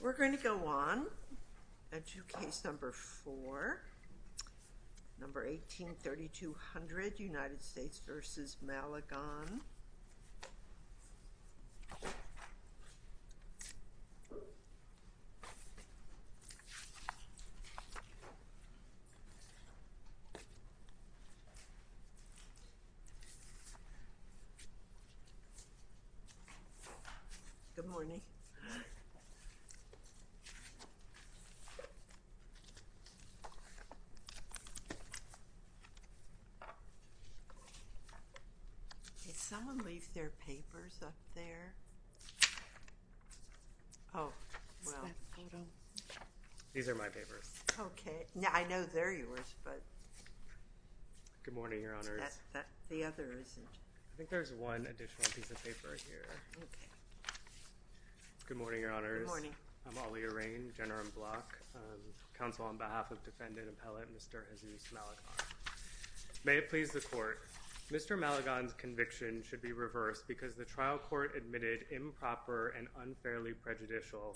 We're going to go on to case number 4, number 183200, United States v. Malagon. Good morning. Someone leaves their papers up there. Oh, well. These are my papers. Okay. Now, I know they're yours, but. Good morning, Your Honors. The other isn't. I think there's one additional piece of paper here. Okay. Good morning, Your Honors. Good morning. I'm Ali Irain, Jenner & Block, counsel on behalf of defendant appellate Mr. Jesus Malagon. May it please the court. Mr. Malagon's conviction should be reversed because the trial court admitted improper and unfairly prejudicial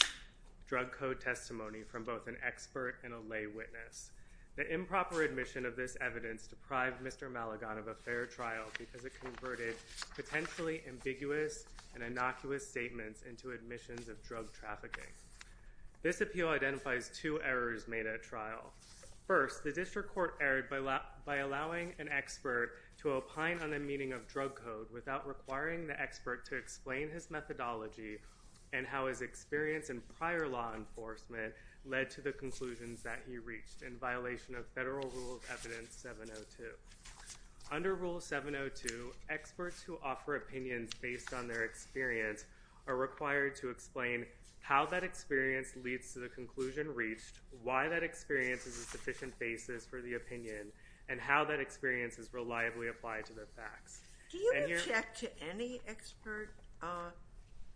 drug code testimony from both an expert and a lay witness. The improper admission of this evidence deprived Mr. Malagon of a fair trial because it converted potentially ambiguous and innocuous statements into admissions of drug trafficking. This appeal identifies two errors made at trial. First, the district court erred by allowing an expert to opine on the meaning of drug code without requiring the expert to explain his methodology and how his experience in prior law enforcement led to the conclusions that he reached in violation of Federal Rule of Evidence 702. Under Rule 702, experts who offer opinions based on their experience are required to explain how that experience leads to the conclusion reached, why that experience is a sufficient basis for the opinion, and how that experience is reliably applied to the facts. Do you object to any expert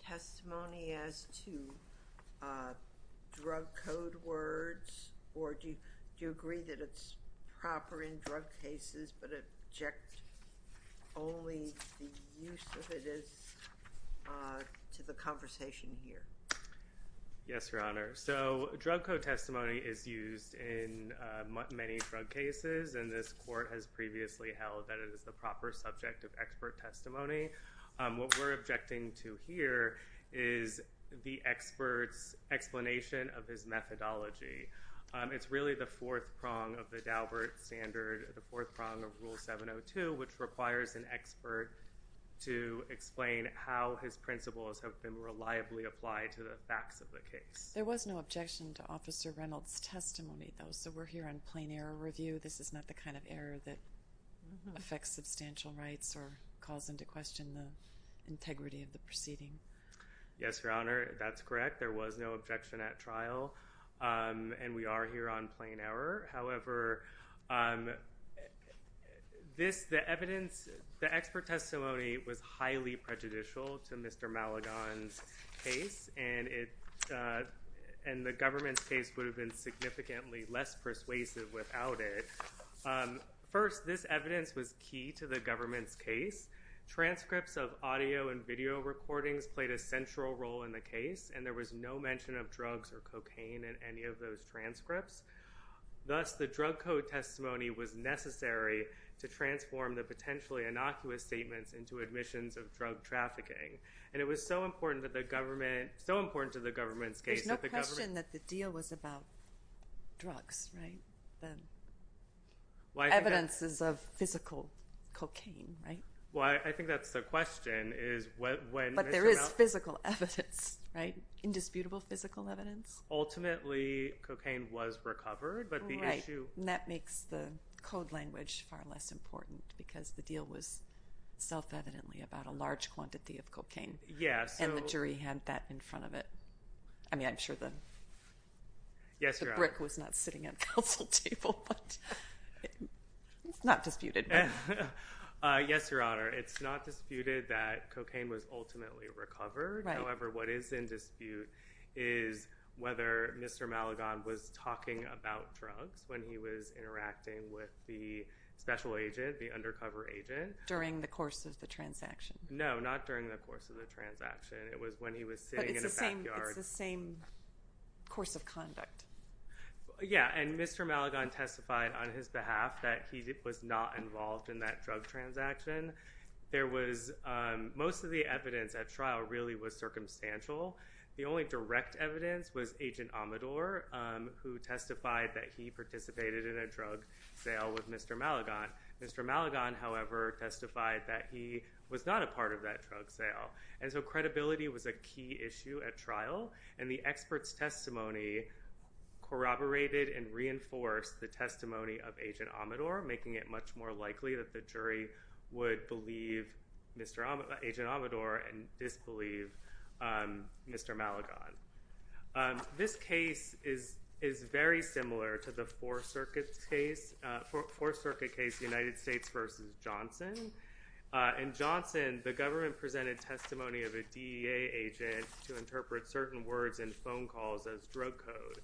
testimony as to drug code words, or do you agree that it's proper in drug cases but object only the use of it is to the conversation here? Yes, Your Honor. So drug code testimony is used in many drug cases, and this court has previously held that it is the proper subject of expert testimony. What we're objecting to here is the expert's explanation of his methodology. It's really the fourth prong of the Daubert standard, the fourth prong of Rule 702, which requires an expert to explain how his principles have been reliably applied to the facts of the case. There was no objection to Officer Reynolds' testimony, though, so we're here on plain error review. This is not the kind of error that affects substantial rights or calls into question the integrity of the proceeding. Yes, Your Honor, that's correct. There was no objection at trial, and we are here on plain error. However, the expert testimony was highly prejudicial to Mr. Maligon's case, and the government's case would have been significantly less persuasive without it. First, this evidence was key to the government's case. Transcripts of audio and video recordings played a central role in the case, and there was no mention of drugs or cocaine in any of those transcripts. Thus, the drug code testimony was necessary to transform the potentially innocuous statements into admissions of drug trafficking. And it was so important to the government's case that the government… There's no question that the deal was about drugs, right? The evidence is of physical cocaine, right? Well, I think that's the question, is when… But there is physical evidence, right? Indisputable physical evidence? Ultimately, cocaine was recovered, but the issue… Right, and that makes the code language far less important because the deal was self-evidently about a large quantity of cocaine. Yes, so… And the jury had that in front of it. I mean, I'm sure the brick was not sitting at the council table, but it's not disputed. Yes, Your Honor, it's not disputed that cocaine was ultimately recovered. However, what is in dispute is whether Mr. Maligon was talking about drugs when he was interacting with the special agent, the undercover agent. During the course of the transaction. No, not during the course of the transaction. It was when he was sitting in a backyard. But it's the same course of conduct. Yes, and Mr. Maligon testified on his behalf that he was not involved in that drug transaction. Most of the evidence at trial really was circumstantial. The only direct evidence was Agent Amador, who testified that he participated in a drug sale with Mr. Maligon. Mr. Maligon, however, testified that he was not a part of that drug sale. And so credibility was a key issue at trial, and the expert's testimony corroborated and reinforced the testimony of Agent Amador, making it much more likely that the jury would believe Agent Amador and disbelieve Mr. Maligon. This case is very similar to the Fourth Circuit case, United States v. Johnson. In Johnson, the government presented testimony of a DEA agent to interpret certain words in phone calls as drug code.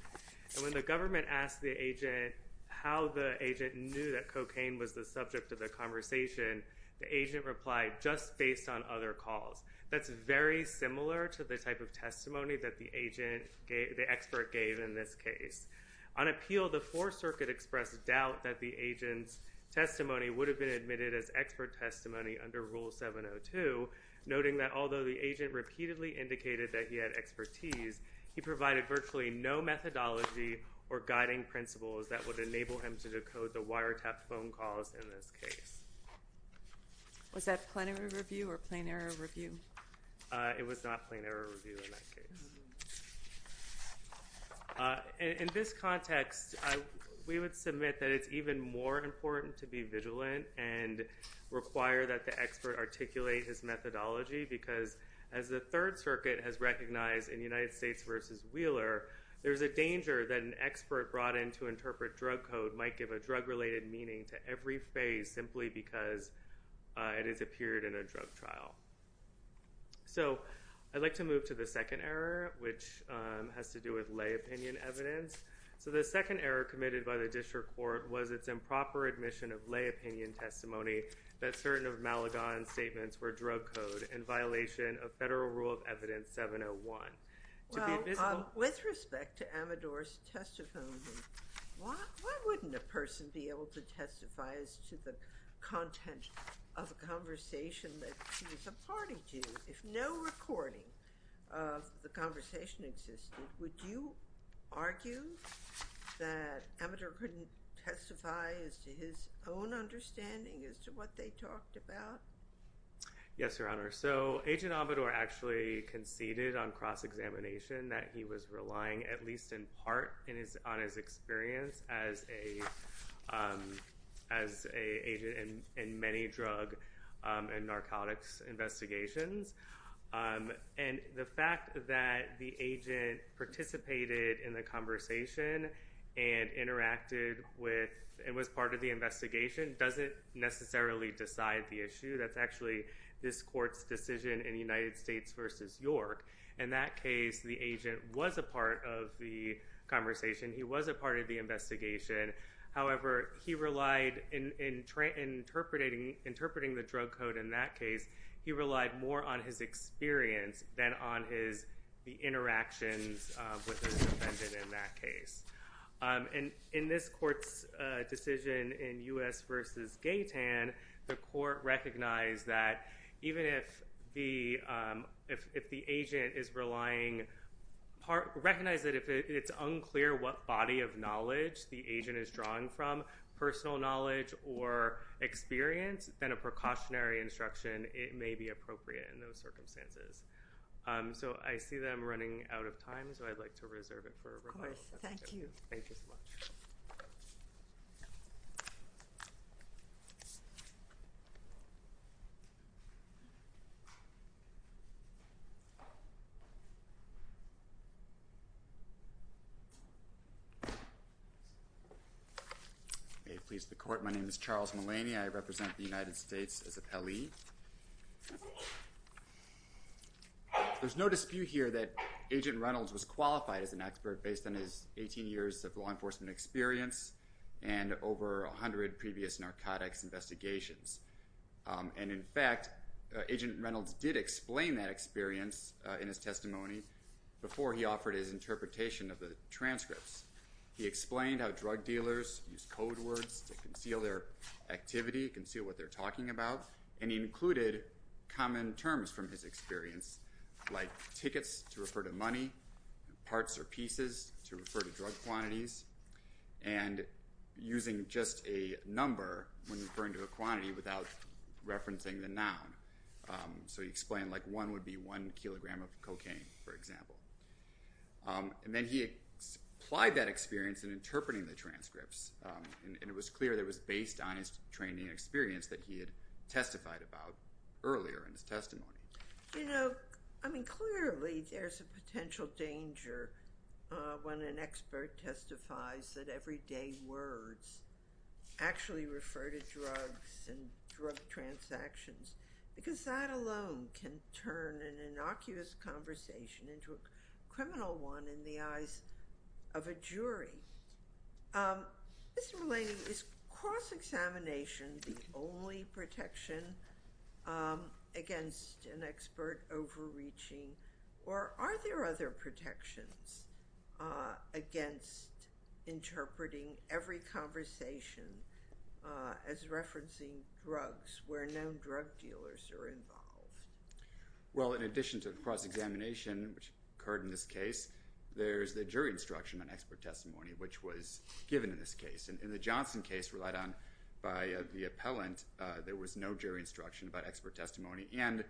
And when the government asked the agent how the agent knew that cocaine was the subject of the conversation, the agent replied, just based on other calls. That's very similar to the type of testimony that the expert gave in this case. On appeal, the Fourth Circuit expressed doubt that the agent's testimony would have been admitted as expert testimony under Rule 702, noting that although the agent repeatedly indicated that he had expertise, he provided virtually no methodology or guiding principles that would enable him to decode the wiretapped phone calls in this case. Was that plenary review or plain error review? It was not plain error review in that case. In this context, we would submit that it's even more important to be vigilant and require that the expert articulate his methodology because, as the Third Circuit has recognized in United States v. Wheeler, there's a danger that an expert brought in to interpret drug code might give a drug-related meaning to every phase simply because it has appeared in a drug trial. I'd like to move to the second error, which has to do with lay opinion evidence. The second error committed by the district court was its improper admission of lay opinion testimony that certain of Maligon's statements were drug code in violation of Federal Rule of Evidence 701. With respect to Amador's testimony, why wouldn't a person be able to testify as to the content of a conversation that she was a party to? If no recording of the conversation existed, would you argue that Amador couldn't testify as to his own understanding as to what they talked about? Yes, Your Honor. Agent Amador actually conceded on cross-examination that he was relying at least in part on his experience as an agent in many drug and narcotics investigations. The fact that the agent participated in the conversation and interacted with and was part of the investigation doesn't necessarily decide the issue. That's actually this court's decision in United States v. York. In that case, the agent was a part of the conversation. He was a part of the investigation. However, in interpreting the drug code in that case, he relied more on his experience than on the interactions with the defendant in that case. In this court's decision in U.S. v. Gaitan, the court recognized that if it's unclear what body of knowledge the agent is drawing from, personal knowledge or experience, then a precautionary instruction may be appropriate in those circumstances. I see that I'm running out of time, so I'd like to reserve it for rebuttal. Of course. Thank you. Thank you so much. May it please the Court, my name is Charles Mullaney. I represent the United States as an appellee. There's no dispute here that Agent Reynolds was qualified as an expert based on his 18 years of law enforcement experience and over 100 previous narcotics investigations. And in fact, Agent Reynolds did explain that experience in his testimony before he offered his interpretation of the transcripts. He explained how drug dealers use code words to conceal their activity, conceal what they're talking about, and he included common terms from his experience, like tickets to refer to money, parts or pieces to refer to drug quantities, and using just a number when referring to a quantity without referencing the noun. So he explained like one would be one kilogram of cocaine, for example. And then he applied that experience in interpreting the transcripts, and it was clear that it was based on his training and experience that he had testified about earlier in his testimony. You know, I mean clearly there's a potential danger when an expert testifies that everyday words actually refer to drugs and drug transactions because that alone can turn an innocuous conversation into a criminal one in the eyes of a jury. Mr. Mulaney, is cross-examination the only protection against an expert overreaching, or are there other protections against interpreting every conversation as referencing drugs where no drug dealers are involved? Well, in addition to cross-examination, which occurred in this case, there's the jury instruction on expert testimony, which was given in this case. In the Johnson case relied on by the appellant, there was no jury instruction about expert testimony. And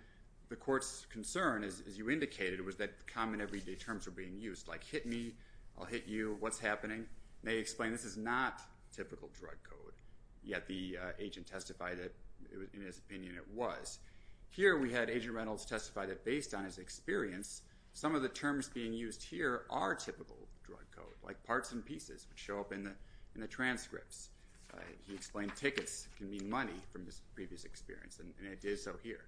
the court's concern, as you indicated, was that common everyday terms were being used, like hit me, I'll hit you, what's happening? And they explained this is not typical drug code, yet the agent testified that in his opinion it was. Here we had Agent Reynolds testify that based on his experience, some of the terms being used here are typical drug code, like parts and pieces, which show up in the transcripts. He explained tickets can mean money from his previous experience, and it did so here.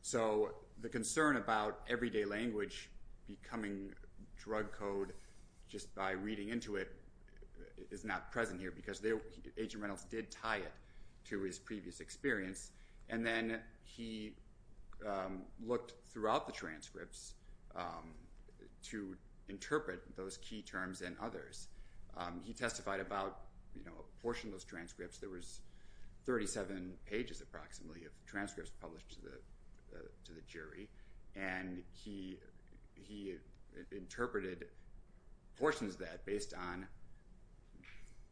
So the concern about everyday language becoming drug code just by reading into it is not present here because Agent Reynolds did tie it to his previous experience. And then he looked throughout the transcripts to interpret those key terms and others. He testified about a portion of those transcripts. There was 37 pages approximately of transcripts published to the jury, and he interpreted portions of that based on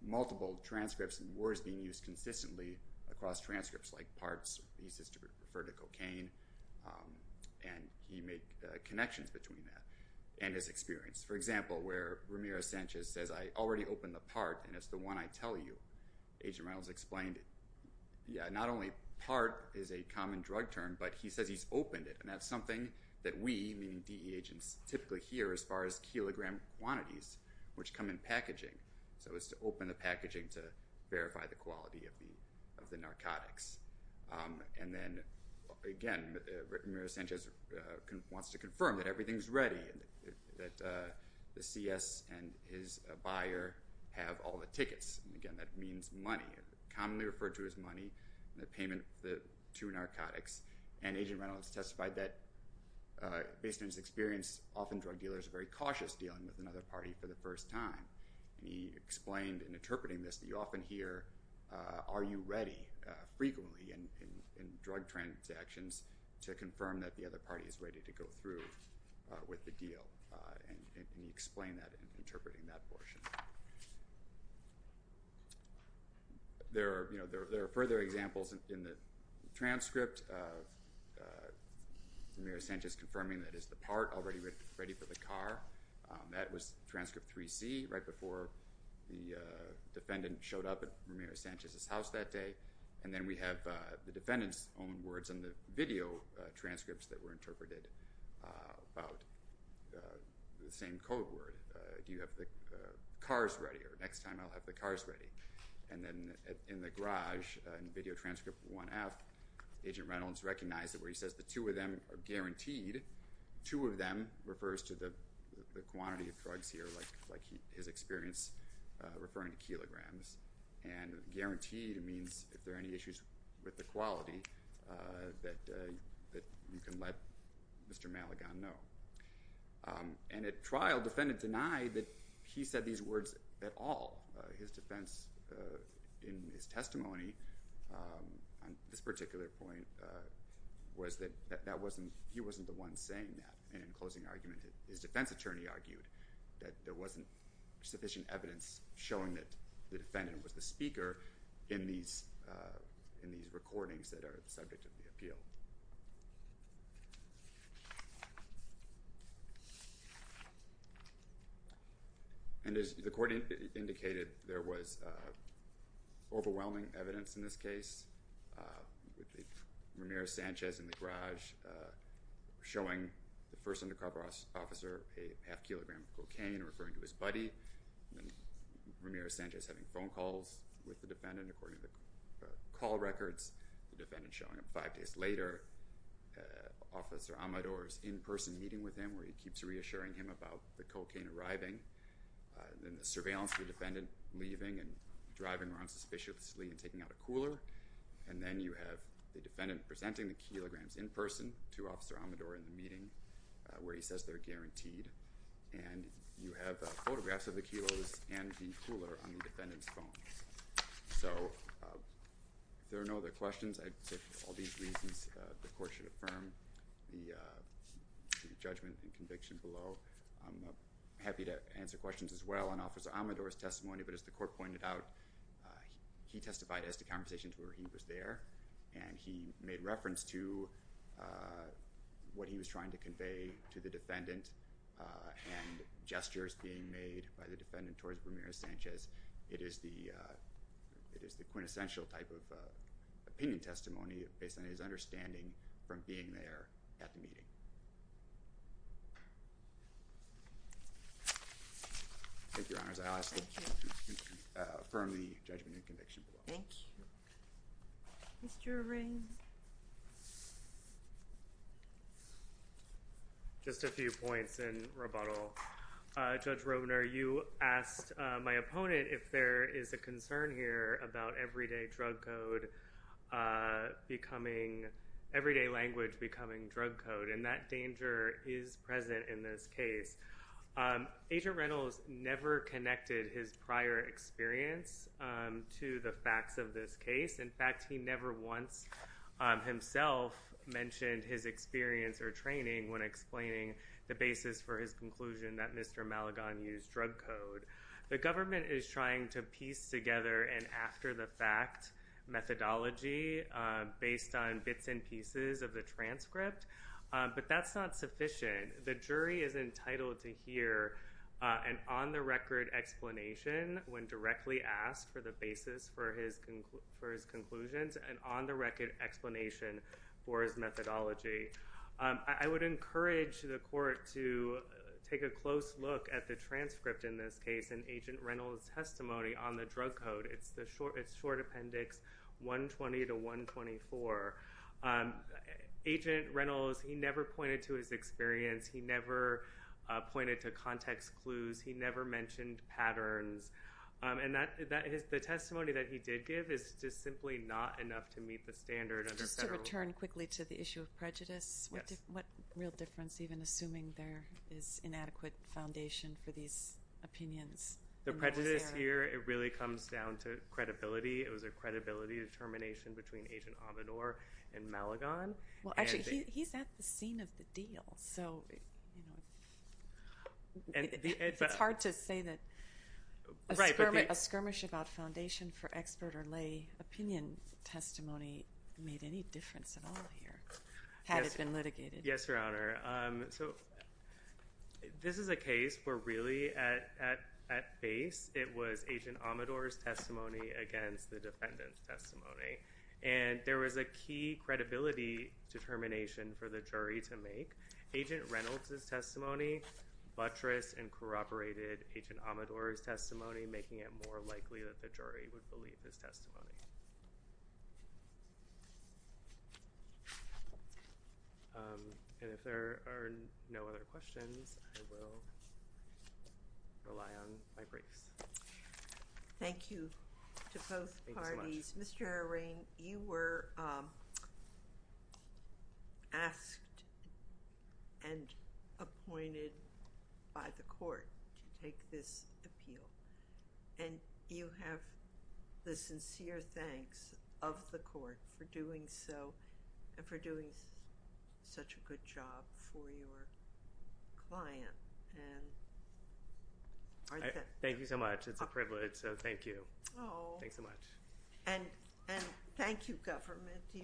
multiple transcripts and words being used consistently across transcripts, like parts, pieces to refer to cocaine, and he made connections between that and his experience. For example, where Ramirez-Sanchez says, I already opened the part, and it's the one I tell you, Agent Reynolds explained, yeah, not only part is a common drug term, but he says he's opened it, and that's something that we, meaning DE agents, typically hear as far as kilogram quantities, which come in packaging, so it's to open the packaging to verify the quality of the narcotics. And then, again, Ramirez-Sanchez wants to confirm that everything's ready, that the CS and his buyer have all the tickets. Again, that means money, commonly referred to as money, the payment to narcotics, and Agent Reynolds testified that based on his experience, often drug dealers are very cautious dealing with another party for the first time, and he explained in interpreting this that you often hear, are you ready frequently in drug transactions to confirm that the other party is ready to go through with the deal, and he explained that in interpreting that portion. There are further examples in the transcript of Ramirez-Sanchez confirming that it's the part that's already ready for the car. That was transcript 3C, right before the defendant showed up at Ramirez-Sanchez's house that day, and then we have the defendant's own words in the video transcripts that were interpreted about the same code word. Do you have the cars ready, or next time I'll have the cars ready. And then in the garage, in video transcript 1F, Agent Reynolds recognized it where he says the two of them are guaranteed. Two of them refers to the quantity of drugs here, like his experience referring to kilograms, and guaranteed means if there are any issues with the quality that you can let Mr. Maligon know. And at trial, the defendant denied that he said these words at all. His defense in his testimony on this particular point was that he wasn't the one saying that, and in closing argument, his defense attorney argued that there wasn't sufficient evidence showing that the defendant was the speaker in these recordings that are the subject of the appeal. And as the court indicated, there was overwhelming evidence in this case. Ramirez-Sanchez in the garage showing the first undercover officer a half kilogram of cocaine, referring to his buddy, Ramirez-Sanchez having phone calls with the defendant according to call records, the defendant showing up five days later, Officer Amador's in-person meeting with him where he keeps reassuring him about the cocaine arriving, and the surveillance of the defendant leaving and driving around suspiciously and taking out a cooler, and then you have the defendant presenting the kilograms in person to Officer Amador in the meeting where he says they're guaranteed, and you have photographs of the kilos and the cooler on the defendant's phone. So if there are no other questions, I'd say for all these reasons, the court should affirm the judgment and conviction below. I'm happy to answer questions as well on Officer Amador's testimony, but as the court pointed out, he testified as to conversations where he was there, and he made reference to what he was trying to convey to the defendant and gestures being made by the defendant towards Ramirez-Sanchez. It is the quintessential type of opinion testimony based on his understanding from being there at the meeting. Thank you, Your Honors. I ask that you affirm the judgment and conviction below. Thank you. Mr. Ring. Just a few points in rebuttal. Judge Robner, you asked my opponent if there is a concern here about everyday drug code becoming – everyday language becoming drug code, and that danger is present in this case. Agent Reynolds never connected his prior experience to the facts of this case. In fact, he never once himself mentioned his experience or training when explaining the basis for his conclusion that Mr. Maligon used drug code. The government is trying to piece together an after-the-fact methodology based on bits and pieces of the transcript, but that's not sufficient. The jury is entitled to hear an on-the-record explanation when directly asked for the basis for his conclusions and on-the-record explanation for his methodology. I would encourage the court to take a close look at the transcript in this case and Agent Reynolds' testimony on the drug code. It's Short Appendix 120 to 124. Agent Reynolds, he never pointed to his experience. He never pointed to context clues. He never mentioned patterns. And the testimony that he did give is just simply not enough to meet the standard. Just to return quickly to the issue of prejudice, what real difference, even assuming there is inadequate foundation for these opinions? The prejudice here, it really comes down to credibility. It was a credibility determination between Agent Amador and Maligon. Well, actually, he's at the scene of the deal. So it's hard to say that a skirmish about foundation for expert or lay opinion testimony made any difference at all here, had it been litigated. Yes, Your Honor. So this is a case where really at base it was Agent Amador's testimony against the defendant's testimony. And there was a key credibility determination for the jury to make. Agent Reynolds' testimony buttressed and corroborated Agent Amador's testimony, making it more likely that the jury would believe his testimony. And if there are no other questions, I will rely on my briefs. Thank you to both parties. Mr. O'Rean, you were asked and appointed by the court to take this appeal. And you have the sincere thanks of the court for doing so and for doing such a good job for your client. Thank you so much. It's a privilege. So thank you. Thanks so much. And thank you, government. You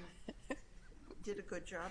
did a good job, too.